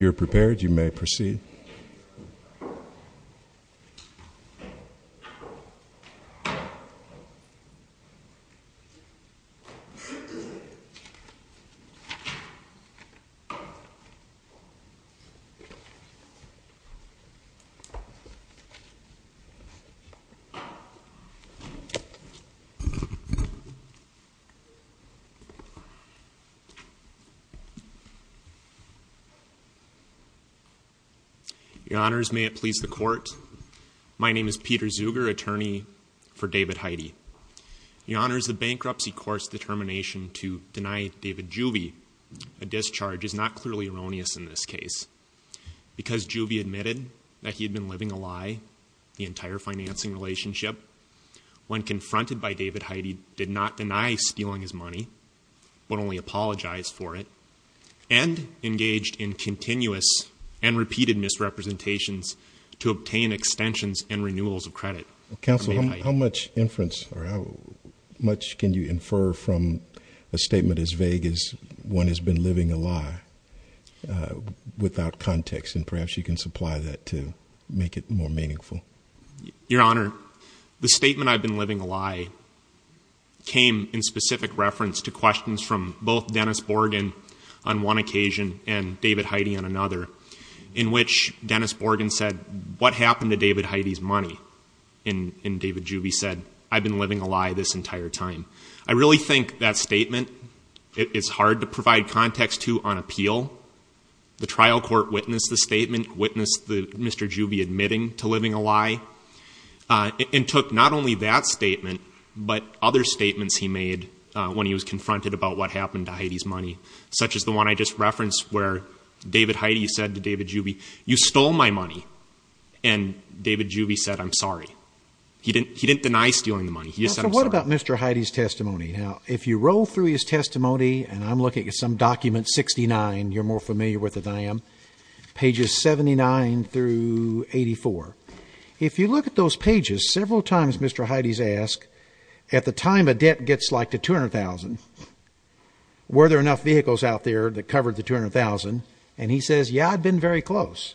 You're prepared, you may proceed. Your Honors, may it please the Court. My name is Peter Zuger, attorney for David Heide. Your Honors, the bankruptcy court's determination to deny David Juve a discharge is not clearly erroneous in this case. Because Juve admitted that he had been living a lie the entire financing relationship, when confronted by David Heide, did not deny stealing his money, but only apologized for it, and engaged in continuous and repeated misrepresentations to obtain extensions and renewals of credit for David Heide. Counsel, how much inference, or how much can you infer from a statement as vague as, one has been living a lie, without context? And perhaps you can supply that to make it more meaningful. Your Honor, the statement, I've been living a lie, came in specific reference to questions from both Dennis Borgen on one occasion, and David Heide on another, in which Dennis Borgen said, what happened to David Heide's money? And David Juve said, I've been living a lie this entire time. I really think that statement is hard to provide context to on appeal. The trial court witnessed the statement, witnessed Mr. Juve admitting to living a lie, and took not only that statement, but other statements he made when he was confronted about what happened to Heide's money, such as the one I just referenced where David Heide said to David Juve, you stole my money. And David Juve said, I'm sorry. He didn't deny stealing the money. He just said, I'm sorry. So what about Mr. Heide's testimony? Now, if you roll through his testimony, and I'm looking at some document 69, you're more familiar with it than I am, pages 79 through 84. If you look at those pages, several times Mr. Heide's asked, at the time a debt gets like to $200,000, were there enough vehicles out there that covered the $200,000? And he says, yeah, I've been very close.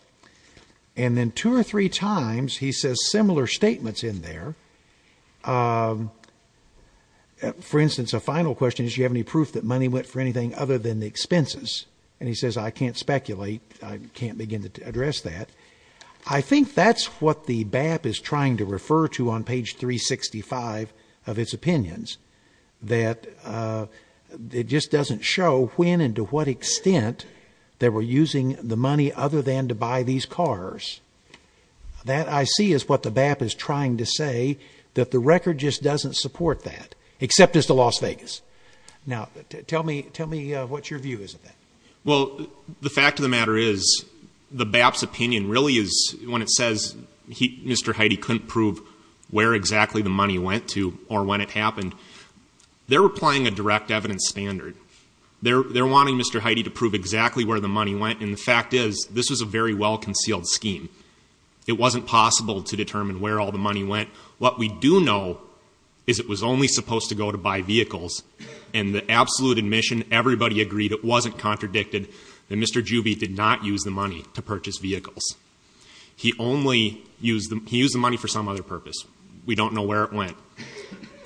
And then two or three times, he says similar statements in there. For instance, a final question is, do you have any proof that money went for anything other than the expenses? And he says, I can't speculate. I can't begin to address that. I think that's what the BAP is trying to refer to on page 365 of its opinions, that it just doesn't show when and to what extent they were using the money other than to buy these cars. That, I see, is what the BAP is trying to say, that the record just doesn't support that, except as to Las Vegas. Now, tell me what your view is of that. Well, the fact of the matter is the BAP's opinion really is when it says Mr. Heide couldn't prove where exactly the money went to or when it happened, they're applying a direct evidence standard. They're wanting Mr. Heide to prove exactly where the money went. And the fact is, this was a very well-concealed scheme. It wasn't possible to determine where all the money went. What we do know is it was only supposed to go to buy vehicles. And the absolute admission, everybody agreed it wasn't contradicted that Mr. Juvie did not use the money to purchase vehicles. He used the money for some other purpose. We don't know where it went.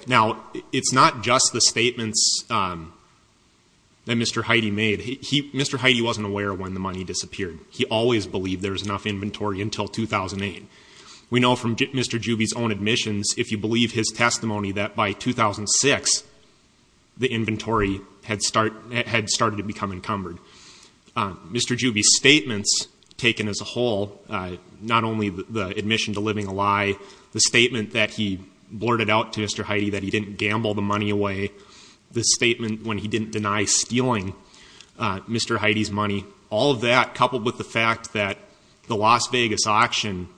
Now, it's not just the statements that Mr. Heide made. Mr. Heide wasn't aware when the money disappeared. He always believed there was enough inventory until 2008. We know from Mr. Juvie's own admissions, if you believe his testimony, that by 2006, the inventory had started to become encumbered. Mr. Juvie's statements taken as a whole, not only the admission to living a lie, the statement that he blurted out to Mr. Heide that he didn't gamble the money away, the statement when he didn't deny stealing Mr. Heide's money, all of that coupled with the fact that the Las Vegas auction,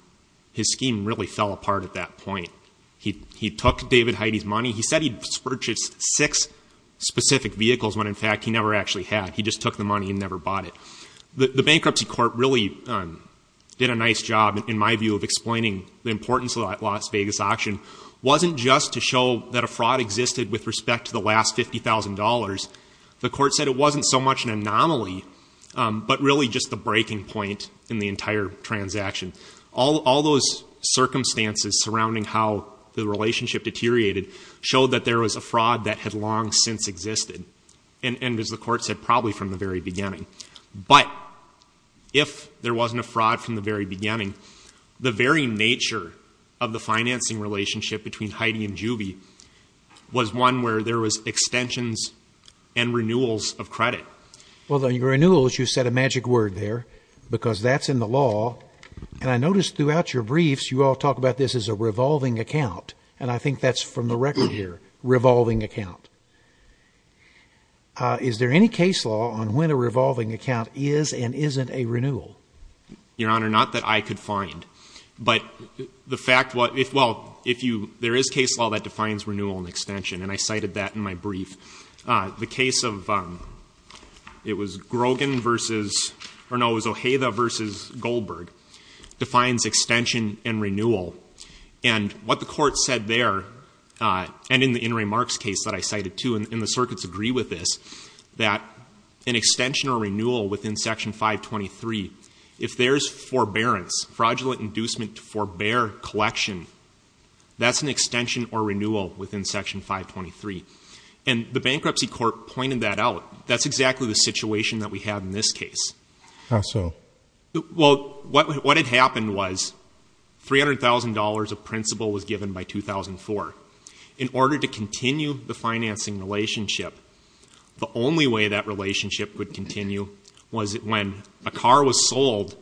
his scheme really fell apart at that point. He took David Heide's money. He said he'd purchased six specific vehicles when, in fact, he never actually had. He just took the money and never bought it. The bankruptcy court really did a nice job, in my view, of explaining the importance of that Las Vegas auction. It wasn't just to show that a fraud existed with respect to the last $50,000. The court said it wasn't so much an anomaly, but really just the breaking point in the entire transaction. All those circumstances surrounding how the relationship deteriorated showed that there was a fraud that had long since existed, and, as the court said, probably from the very beginning. But if there wasn't a fraud from the very beginning, the very nature of the financing relationship between Heide and Juvie was one where there was extensions and renewals of credit. Well, the renewals, you said a magic word there because that's in the law. And I noticed throughout your briefs you all talk about this as a revolving account, and I think that's from the record here, revolving account. Is there any case law on when a revolving account is and isn't a renewal? Your Honor, not that I could find. But the fact what, well, if you, there is case law that defines renewal and extension, and I cited that in my brief. The case of, it was Grogan versus, or no, it was Ojeda versus Goldberg, defines extension and renewal. And what the court said there, and in Ray Mark's case that I cited too, and the circuits agree with this, that an extension or renewal within Section 523, if there's forbearance, fraudulent inducement to forbear collection, that's an extension or renewal within Section 523. And the bankruptcy court pointed that out. That's exactly the situation that we have in this case. How so? Well, what had happened was $300,000 of principal was given by 2004. In order to continue the financing relationship, the only way that relationship would continue was when a car was sold,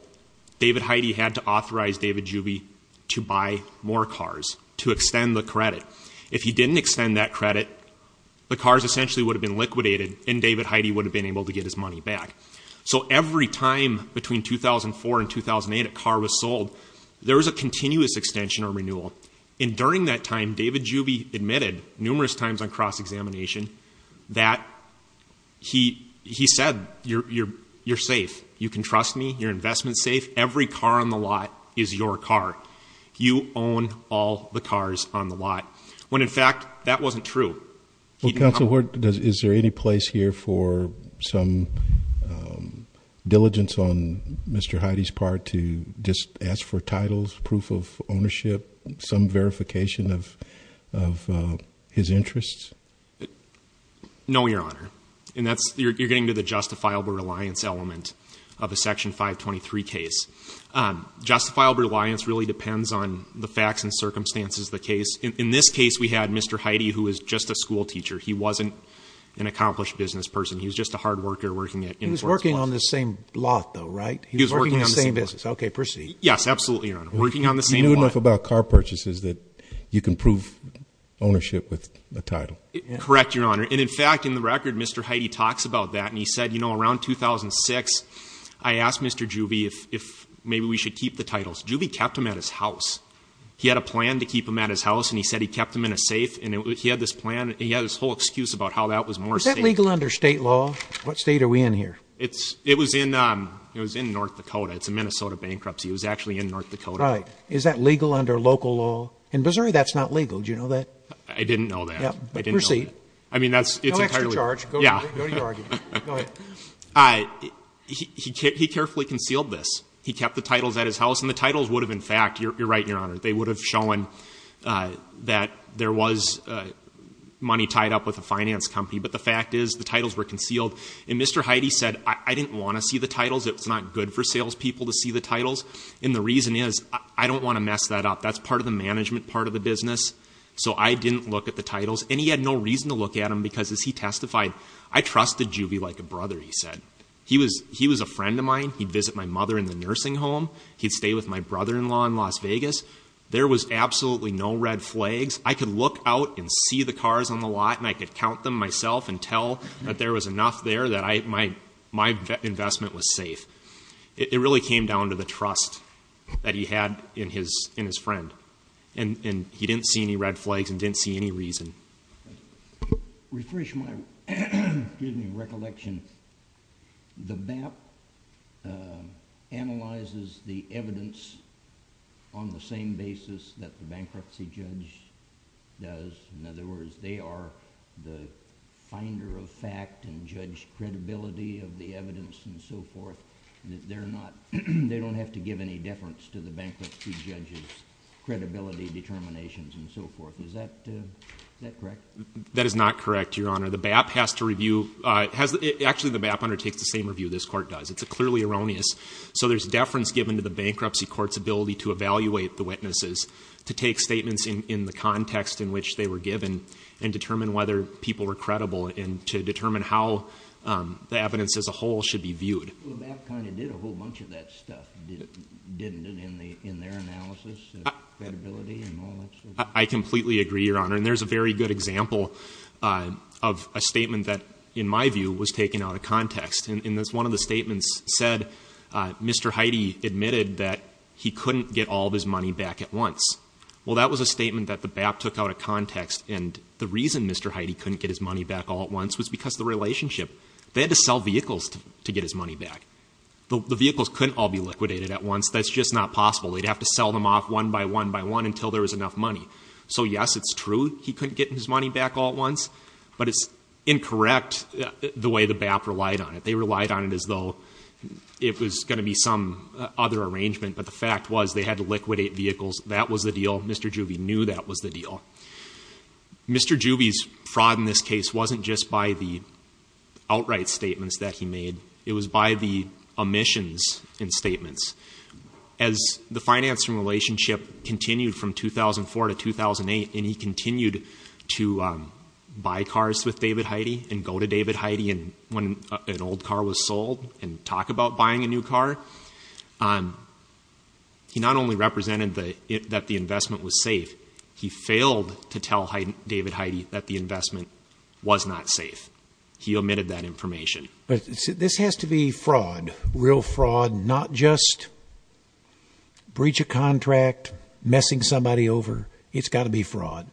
David Heide had to authorize David Juby to buy more cars to extend the credit. If he didn't extend that credit, the cars essentially would have been liquidated, and David Heide would have been able to get his money back. So every time between 2004 and 2008 a car was sold, there was a continuous extension or renewal. And during that time, David Juby admitted numerous times on cross-examination that he said, you're safe, you can trust me, your investment's safe, every car on the lot is your car. You own all the cars on the lot. When, in fact, that wasn't true. Counsel, is there any place here for some diligence on Mr. Heide's part to just ask for titles, proof of ownership, some verification of his interests? No, Your Honor. You're getting to the justifiable reliance element of a Section 523 case. Justifiable reliance really depends on the facts and circumstances of the case. In this case, we had Mr. Heide, who was just a schoolteacher. He wasn't an accomplished business person. He was just a hard worker working at InfoRx. He was working on the same lot, though, right? He was working on the same business. Okay, proceed. Yes, absolutely, Your Honor. Working on the same lot. You knew enough about car purchases that you can prove ownership with a title. Correct, Your Honor. And, in fact, in the record, Mr. Heide talks about that, and he said, you know, around 2006, I asked Mr. Juby if maybe we should keep the titles. Juby kept them at his house. He had a plan to keep them at his house, and he said he kept them in a safe, and he had this plan, and he had this whole excuse about how that was more safe. Is that legal under state law? What state are we in here? It was in North Dakota. It's a Minnesota bankruptcy. It was actually in North Dakota. Right. Is that legal under local law? In Missouri, that's not legal. Did you know that? I didn't know that. I didn't know that. Proceed. No extra charge. Go to your argument. Go ahead. He carefully concealed this. He kept the titles at his house, and the titles would have, in fact, you're right, Your Honor, they would have shown that there was money tied up with a finance company, but the fact is the titles were concealed. And Mr. Heide said, I didn't want to see the titles. It's not good for salespeople to see the titles. And the reason is I don't want to mess that up. That's part of the management part of the business, so I didn't look at the titles. And he had no reason to look at them because, as he testified, I trusted Juby like a brother, he said. He was a friend of mine. He'd visit my mother in the nursing home. He'd stay with my brother-in-law in Las Vegas. There was absolutely no red flags. I could look out and see the cars on the lot, and I could count them myself and tell that there was enough there that my investment was safe. It really came down to the trust that he had in his friend. And he didn't see any red flags and didn't see any reason. Refresh my recollection. The BAP analyzes the evidence on the same basis that the bankruptcy judge does. In other words, they are the finder of fact and judge credibility of the evidence and so forth. They don't have to give any deference to the bankruptcy judge's credibility, determinations, and so forth. Is that correct? That is not correct, Your Honor. The BAP has to review. Actually, the BAP undertakes the same review this court does. It's clearly erroneous. So there's deference given to the bankruptcy court's ability to evaluate the witnesses, to take statements in the context in which they were given, and determine whether people were credible, and to determine how the evidence as a whole should be viewed. Well, the BAP kind of did a whole bunch of that stuff, didn't it, in their analysis of credibility and all that sort of stuff? I completely agree, Your Honor. And there's a very good example of a statement that, in my view, was taken out of context. And as one of the statements said, Mr. Heide admitted that he couldn't get all of his money back at once. Well, that was a statement that the BAP took out of context, and the reason Mr. Heide couldn't get his money back all at once was because of the relationship. They had to sell vehicles to get his money back. The vehicles couldn't all be liquidated at once. That's just not possible. They'd have to sell them off one by one by one until there was enough money. So, yes, it's true he couldn't get his money back all at once, but it's incorrect the way the BAP relied on it. They relied on it as though it was going to be some other arrangement, but the fact was they had to liquidate vehicles. That was the deal. Mr. Juvie knew that was the deal. Mr. Juvie's fraud in this case wasn't just by the outright statements that he made. It was by the omissions in statements. As the financing relationship continued from 2004 to 2008, and he continued to buy cars with David Heide and go to David Heide when an old car was sold and talk about buying a new car, he not only represented that the investment was safe, he failed to tell David Heide that the investment was not safe. He omitted that information. But this has to be fraud, real fraud, not just breach of contract, messing somebody over. It's got to be fraud.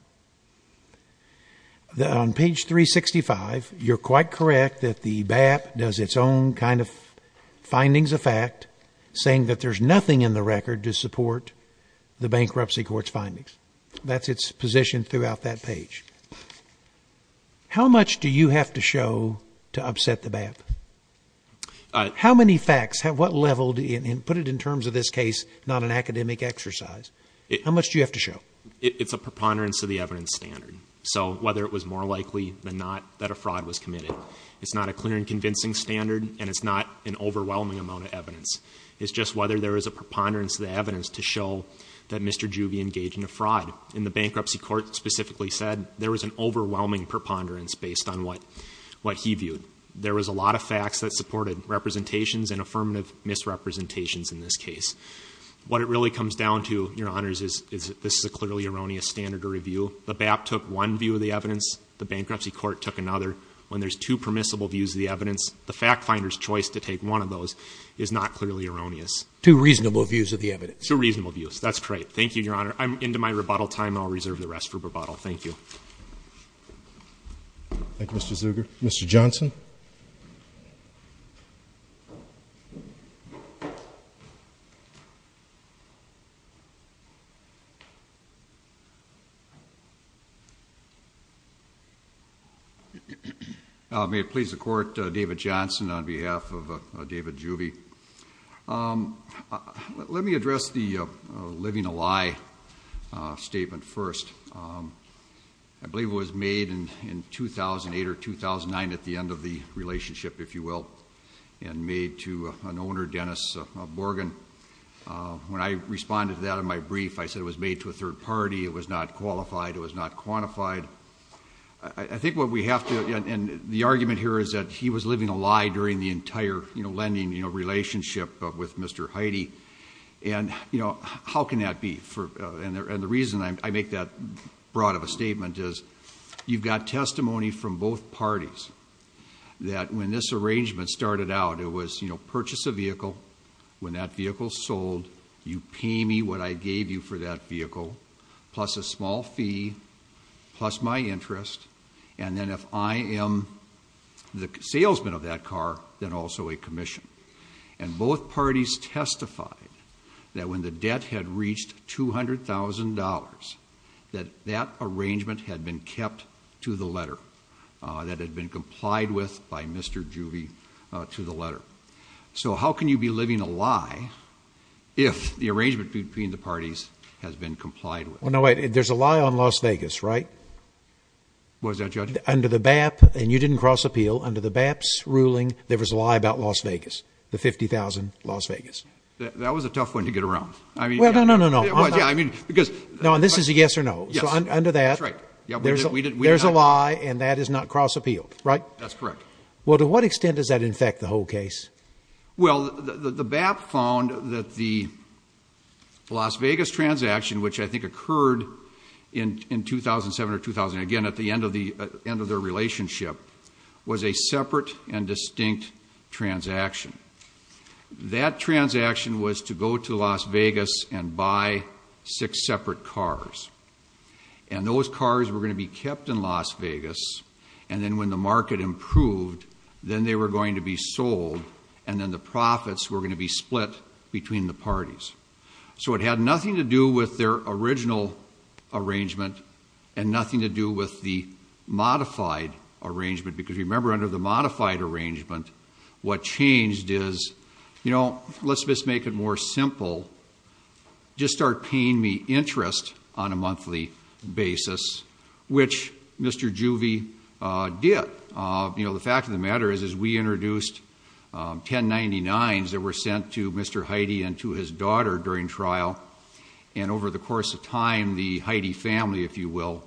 On page 365, you're quite correct that the BAP does its own kind of findings of fact, saying that there's nothing in the record to support the bankruptcy court's findings. That's its position throughout that page. How much do you have to show to upset the BAP? How many facts? What level? Put it in terms of this case, not an academic exercise. How much do you have to show? It's a preponderance of the evidence standard, so whether it was more likely than not that a fraud was committed. It's not a clear and convincing standard, and it's not an overwhelming amount of evidence. It's just whether there is a preponderance of the evidence to show that Mr. Juvie engaged in a fraud. And the bankruptcy court specifically said there was an overwhelming preponderance based on what he viewed. There was a lot of facts that supported representations and affirmative misrepresentations in this case. What it really comes down to, Your Honors, is this is a clearly erroneous standard to review. The BAP took one view of the evidence. The bankruptcy court took another. When there's two permissible views of the evidence, the fact finder's choice to take one of those is not clearly erroneous. Two reasonable views of the evidence. Two reasonable views. That's correct. Thank you, Your Honor. I'm into my rebuttal time. I'll reserve the rest for rebuttal. Thank you. Thank you, Mr. Zuger. Mr. Johnson. May it please the Court, David Johnson on behalf of David Juvie. Let me address the living a lie statement first. I believe it was made in 2008 or 2009 at the end of the relationship, if you will, and made to an owner, Dennis Borgen. When I responded to that in my brief, I said it was made to a third party. It was not qualified. It was not quantified. I think what we have to, and the argument here is that he was living a lie during the entire lending relationship with Mr. Heidi. And how can that be? And the reason I make that broad of a statement is you've got testimony from both parties that when this arrangement started out, it was purchase a vehicle. When that vehicle sold, you pay me what I gave you for that vehicle. Plus a small fee, plus my interest, and then if I am the salesman of that car, then also a commission. And both parties testified that when the debt had reached $200,000, that that arrangement had been kept to the letter. That had been complied with by Mr. Juvie to the letter. So how can you be living a lie if the arrangement between the parties has been complied with? Well, no, wait. There's a lie on Las Vegas, right? What is that, Judge? Under the BAP, and you didn't cross appeal, under the BAP's ruling, there was a lie about Las Vegas, the $50,000 Las Vegas. That was a tough one to get around. Well, no, no, no, no. Yeah, I mean, because. No, and this is a yes or no. Yes. So under that. That's right. There's a lie, and that is not cross appealed, right? That's correct. Well, to what extent does that infect the whole case? Well, the BAP found that the Las Vegas transaction, which I think occurred in 2007 or 2008, again, at the end of their relationship, was a separate and distinct transaction. That transaction was to go to Las Vegas and buy six separate cars. And those cars were going to be kept in Las Vegas, and then when the market improved, then they were going to be sold, and then the profits were going to be split between the parties. So it had nothing to do with their original arrangement and nothing to do with the modified arrangement, because remember, under the modified arrangement, what changed is, you know, let's just make it more simple. Just start paying me interest on a monthly basis, which Mr. Juvie did. You know, the fact of the matter is, is we introduced 1099s that were sent to Mr. Heide and to his daughter during trial, and over the course of time, the Heide family, if you will,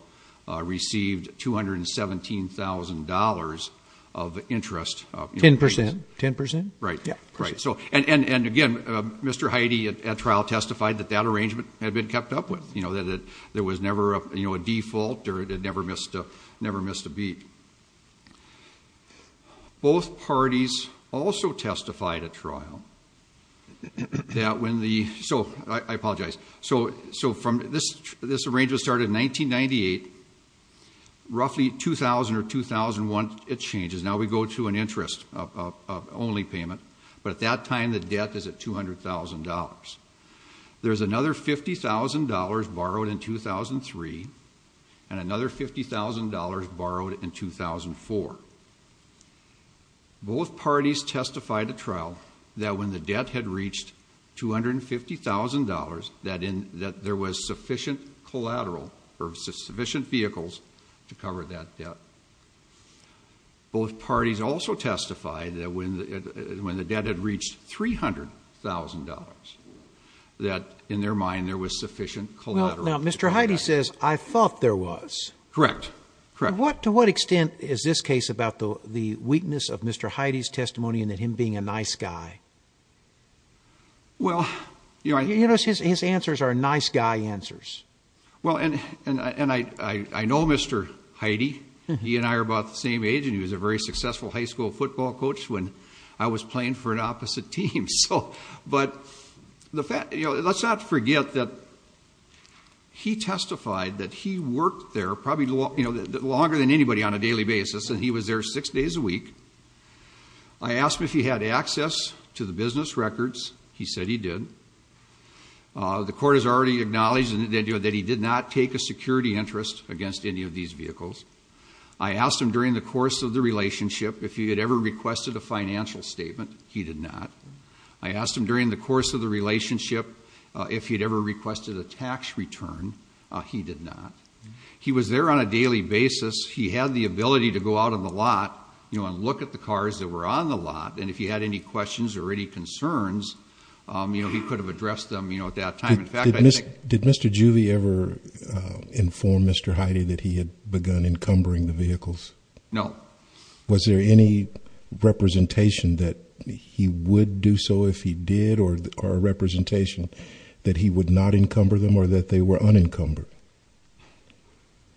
received $217,000 of interest. Ten percent. Ten percent? Right. Yeah. Ten percent. Ten percent. Right. And again, Mr. Heide, at trial, testified that that arrangement had been kept up with, you know, that it was never a default or it had never missed a beat. Both parties also testified at trial that when the – so I apologize. So from – this arrangement started in 1998. Roughly 2000 or 2001, it changes. Now we go to an interest-only payment. But at that time, the debt is at $200,000. There's another $50,000 borrowed in 2003 and another $50,000 borrowed in 2004. Both parties testified at trial that when the debt had reached $250,000, that there was sufficient collateral or sufficient vehicles to cover that debt. Both parties also testified that when the debt had reached $300,000, that in their mind there was sufficient collateral. Now, Mr. Heide says, I thought there was. Correct. Correct. And to what extent is this case about the weakness of Mr. Heide's testimony and that him being a nice guy? Well, you know – His answers are nice guy answers. Well, and I know Mr. Heide. He and I are about the same age, and he was a very successful high school football coach when I was playing for an opposite team. But let's not forget that he testified that he worked there probably longer than anybody on a daily basis, and he was there six days a week. I asked him if he had access to the business records. He said he did. The court has already acknowledged that he did not take a security interest against any of these vehicles. I asked him during the course of the relationship if he had ever requested a financial statement. He did not. I asked him during the course of the relationship if he had ever requested a tax return. He did not. He was there on a daily basis. He had the ability to go out on the lot and look at the cars that were on the lot, and if he had any questions or any concerns, he could have addressed them at that time. Did Mr. Juvie ever inform Mr. Heide that he had begun encumbering the vehicles? No. Was there any representation that he would do so if he did, or a representation that he would not encumber them or that they were unencumbered?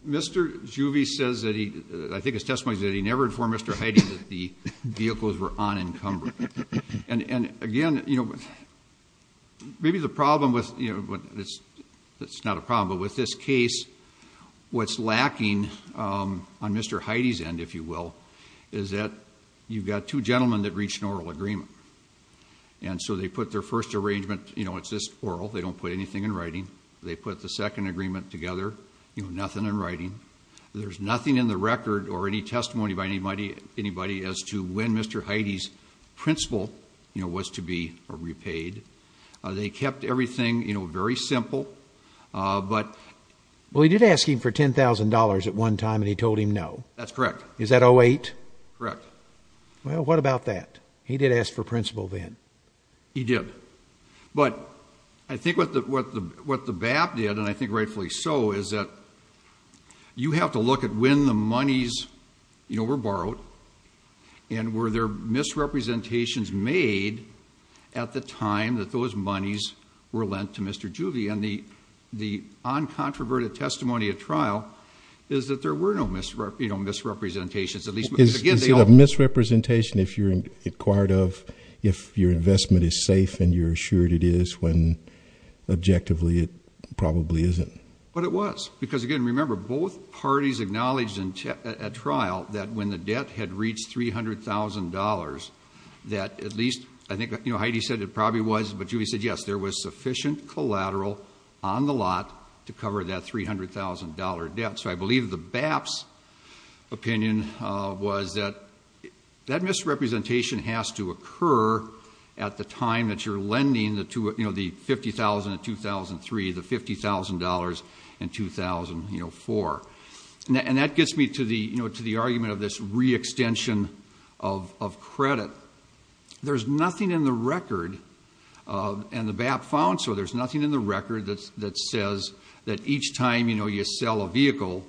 Mr. Juvie says that he, I think his testimony is that he never informed Mr. Heide that the vehicles were unencumbered. And again, you know, maybe the problem with, you know, it's not a problem, but with this case, what's lacking on Mr. Heide's end, if you will, is that you've got two gentlemen that reached an oral agreement. And so they put their first arrangement, you know, it's just oral. They don't put anything in writing. They put the second agreement together, you know, nothing in writing. There's nothing in the record or any testimony by anybody as to when Mr. Heide's principal, you know, was to be repaid. They kept everything, you know, very simple. Well, he did ask him for $10,000 at one time, and he told him no. That's correct. Is that 08? Correct. Well, what about that? He did ask for principal then. He did. But I think what the BAP did, and I think rightfully so, is that you have to look at when the monies, you know, were borrowed, and were there misrepresentations made at the time that those monies were lent to Mr. Juvie? And the uncontroverted testimony at trial is that there were no, you know, misrepresentations. Is it a misrepresentation if you're inquired of if your investment is safe and you're assured it is when objectively it probably isn't? But it was because, again, remember, both parties acknowledged at trial that when the debt had reached $300,000 that at least, I think, you know, Heide said it probably was, but Juvie said yes, there was sufficient collateral on the lot to cover that $300,000 debt. So I believe the BAP's opinion was that that misrepresentation has to occur at the time that you're lending the $50,000 in 2003, the $50,000 in 2004. And that gets me to the argument of this re-extension of credit. There's nothing in the record, and the BAP found so, there's nothing in the record that says that each time, you know, you sell a vehicle,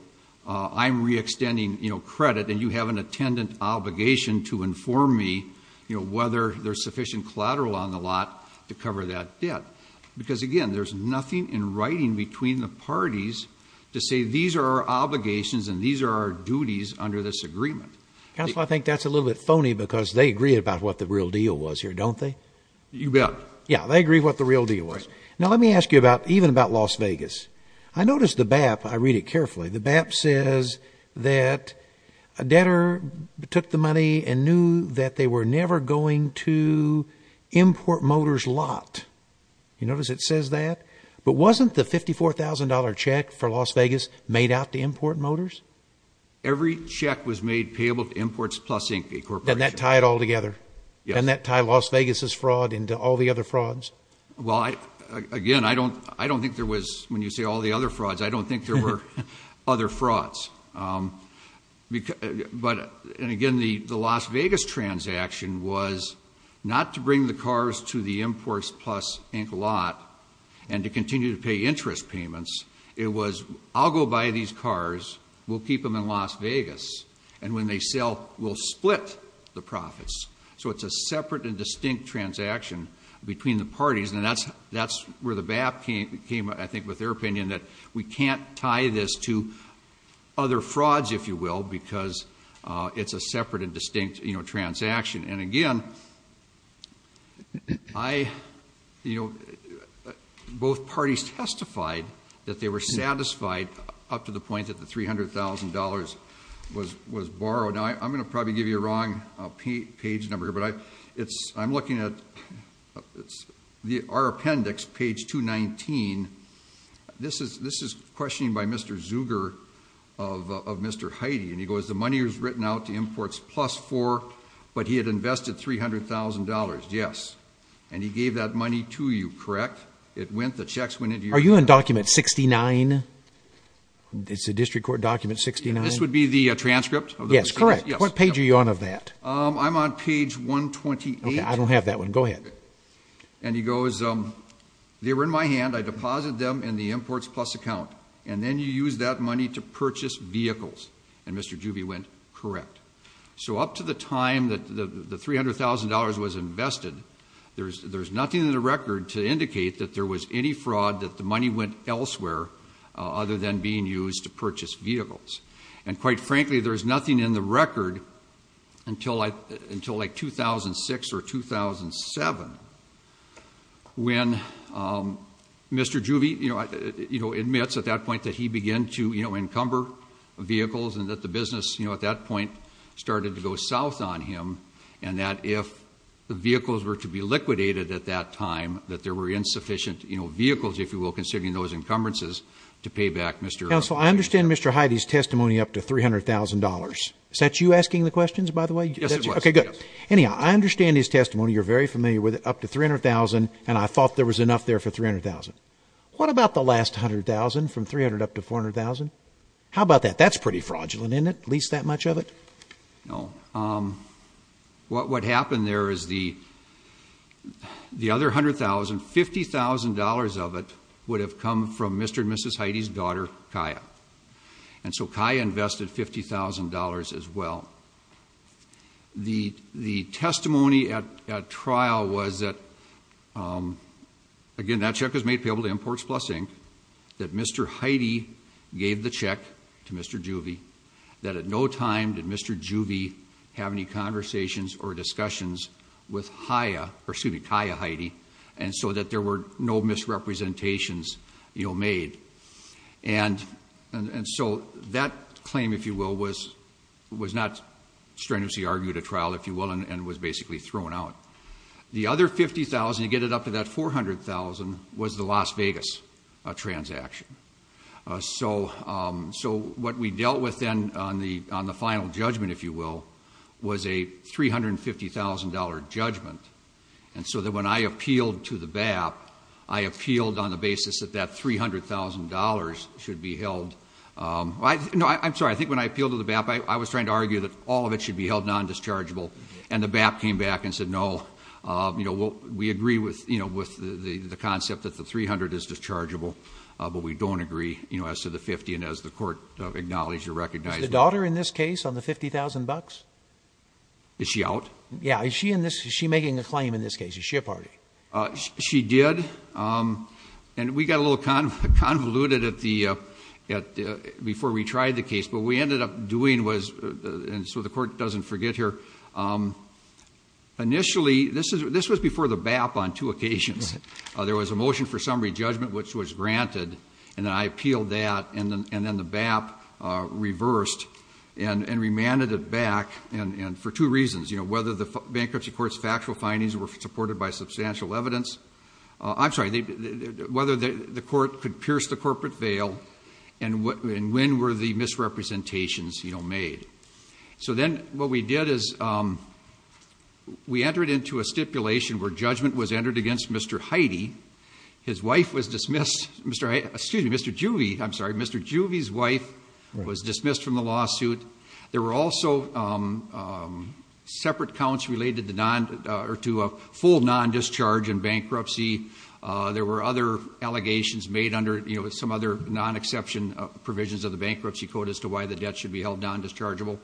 I'm re-extending, you know, credit, and you have an attendant obligation to inform me, you know, whether there's sufficient collateral on the lot to cover that debt. Because, again, there's nothing in writing between the parties to say these are our obligations and these are our duties under this agreement. Counsel, I think that's a little bit phony because they agree about what the real deal was here, don't they? You bet. Yeah, they agree what the real deal was. Now, let me ask you about, even about Las Vegas. I noticed the BAP, I read it carefully, the BAP says that a debtor took the money and knew that they were never going to import motor's lot. You notice it says that? But wasn't the $54,000 check for Las Vegas made out to import motors? Every check was made payable to Imports Plus Inc., a corporation. Doesn't that tie it all together? Yes. Doesn't that tie Las Vegas' fraud into all the other frauds? Well, again, I don't think there was, when you say all the other frauds, I don't think there were other frauds. But, and again, the Las Vegas transaction was not to bring the cars to the Imports Plus Inc. lot and to continue to pay interest payments. It was, I'll go buy these cars, we'll keep them in Las Vegas, and when they sell, we'll split the profits. So it's a separate and distinct transaction between the parties. And that's where the BAP came, I think, with their opinion that we can't tie this to other frauds, if you will, because it's a separate and distinct transaction. And again, both parties testified that they were satisfied up to the point that the $300,000 was borrowed. Now, I'm going to probably give you a wrong page number here, but I'm looking at our appendix, page 219. This is questioning by Mr. Zuger of Mr. Heide. And he goes, the money was written out to Imports Plus for, but he had invested $300,000. Yes. And he gave that money to you, correct? It went, the checks went into your account. Are you on document 69? It's a district court document 69? This would be the transcript? Yes, correct. What page are you on of that? I'm on page 128. Okay, I don't have that one. Go ahead. And he goes, they were in my hand. I deposited them in the Imports Plus account. And then you used that money to purchase vehicles. And Mr. Zuber went, correct. So up to the time that the $300,000 was invested, there's nothing in the record to indicate that there was any fraud, that the money went elsewhere other than being used to purchase vehicles. And quite frankly, there's nothing in the record until like 2006 or 2007 when Mr. Zuber admits at that point that he began to encumber vehicles and that the business at that point started to go south on him. And that if the vehicles were to be liquidated at that time, that there were insufficient vehicles, if you will, considering those encumbrances, to pay back Mr. Heide. Counsel, I understand Mr. Heide's testimony up to $300,000. Is that you asking the questions, by the way? Yes, it was. Okay, good. Anyhow, I understand his testimony. You're very familiar with it. Up to $300,000, and I thought there was enough there for $300,000. What about the last $100,000 from $300,000 up to $400,000? How about that? That's pretty fraudulent, isn't it, at least that much of it? No. What happened there is the other $100,000, $50,000 of it would have come from Mr. and Mrs. Heide's daughter, Kaya. And so Kaya invested $50,000 as well. The testimony at trial was that, again, that check was made payable to Imports Plus Inc., that Mr. Heide gave the check to Mr. Juvie, that at no time did Mr. Juvie have any conversations or discussions with Kaya Heide, and so that there were no misrepresentations made. And so that claim, if you will, was not strenuously argued at trial, if you will, and was basically thrown out. The other $50,000 to get it up to that $400,000 was the Las Vegas transaction. So what we dealt with then on the final judgment, if you will, was a $350,000 judgment. And so that when I appealed to the BAP, I appealed on the basis that that $300,000 should be held. No, I'm sorry. I think when I appealed to the BAP, I was trying to argue that all of it should be held non-dischargeable. And the BAP came back and said, no, we agree with the concept that the $300,000 is dischargeable, but we don't agree as to the $50,000. And as the court acknowledged or recognized. Was the daughter in this case on the $50,000? Is she out? Yeah. Is she making a claim in this case? Is she a party? She did. And we got a little convoluted before we tried the case. But what we ended up doing was, and so the court doesn't forget here, initially, this was before the BAP on two occasions. There was a motion for summary judgment, which was granted. And then I appealed that. And then the BAP reversed and remanded it back. And for two reasons. Whether the bankruptcy court's factual findings were supported by substantial evidence. I'm sorry. Whether the court could pierce the corporate veil. And when were the misrepresentations made. So then what we did is, we entered into a stipulation where judgment was entered against Mr. Heidi. His wife was dismissed. Excuse me, Mr. Juvie, I'm sorry. Mr. Juvie's wife was dismissed from the lawsuit. There were also separate counts related to a full non-discharge in bankruptcy. There were other allegations made under some other non-exception provisions of the bankruptcy code as to why the debt should be held non-dischargeable.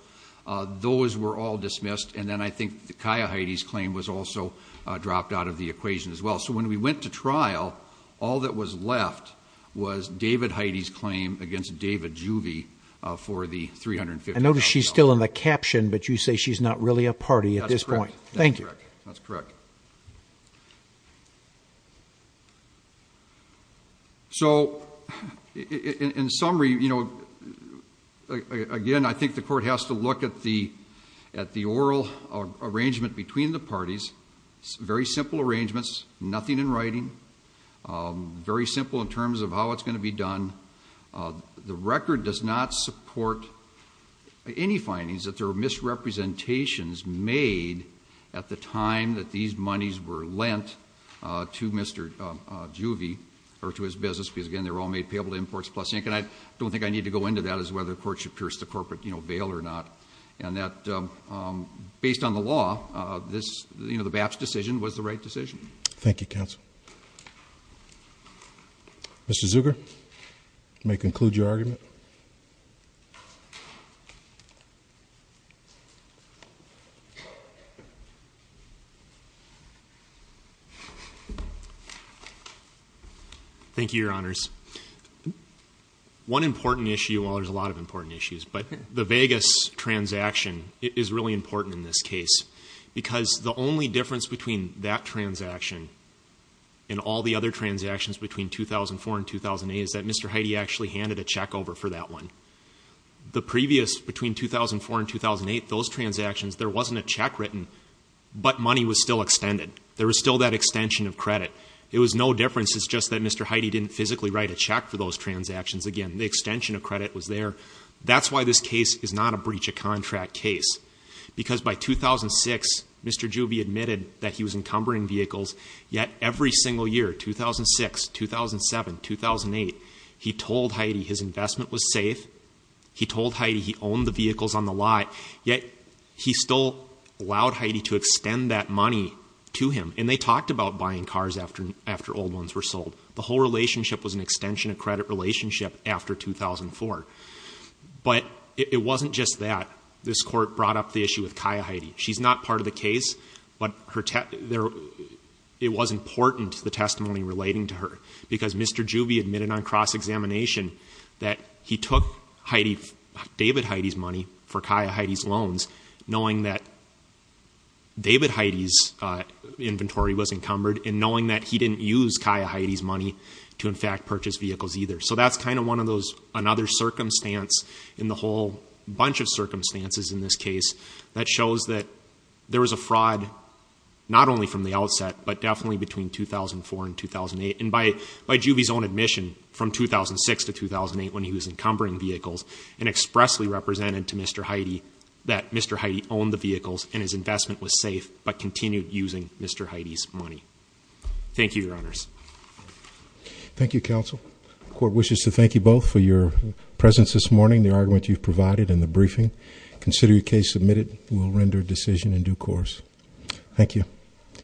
Those were all dismissed. And then I think Kaia Heidi's claim was also dropped out of the equation as well. So when we went to trial, all that was left was David Heidi's claim against David Juvie for the $350,000. I notice she's still in the caption, but you say she's not really a party at this point. That's correct. Thank you. That's correct. So, in summary, you know, again, I think the court has to look at the oral arrangement between the parties. Very simple arrangements. Nothing in writing. Very simple in terms of how it's going to be done. The record does not support any findings that there are misrepresentations made at the time that these monies were lent to Mr. Juvie or to his business. Because, again, they were all made payable to Imports Plus Inc. And I don't think I need to go into that as to whether the court should pierce the corporate bail or not. And that, based on the law, this, you know, the BAPS decision was the right decision. Thank you, counsel. Mr. Zucker, you may conclude your argument. Thank you, Your Honors. One important issue, well, there's a lot of important issues, but the Vegas transaction is really important in this case. Because the only difference between that transaction and all the other transactions between 2004 and 2008 is that Mr. Heide actually handed a check over for that one. The previous, between 2004 and 2008, those transactions, there wasn't a check written, but money was still extended. It was no difference. It's just that Mr. Heide didn't physically write a check for those transactions. Again, the extension of credit was there. That's why this case is not a breach of contract case. Because by 2006, Mr. Juvie admitted that he was encumbering vehicles. Yet, every single year, 2006, 2007, 2008, he told Heide his investment was safe. He told Heide he owned the vehicles on the lot. Yet, he still allowed Heide to extend that money to him. And they talked about buying cars after old ones were sold. The whole relationship was an extension of credit relationship after 2004. But it wasn't just that. This Court brought up the issue with Kaya Heide. She's not part of the case, but it was important, the testimony relating to her. Because Mr. Juvie admitted on cross-examination that he took David Heide's money for Kaya Heide's loans, knowing that David Heide's inventory was encumbered, and knowing that he didn't use Kaya Heide's money to, in fact, purchase vehicles either. So that's kind of another circumstance in the whole bunch of circumstances in this case that shows that there was a fraud, not only from the outset, but definitely between 2004 and 2008. And by Juvie's own admission, from 2006 to 2008, when he was encumbering vehicles, and expressly represented to Mr. Heide that Mr. Heide owned the vehicles and his investment was safe, but continued using Mr. Heide's money. Thank you, Your Honors. Thank you, Counsel. The Court wishes to thank you both for your presence this morning, the argument you've provided, and the briefing. Consider your case submitted. We'll render a decision in due course. Thank you.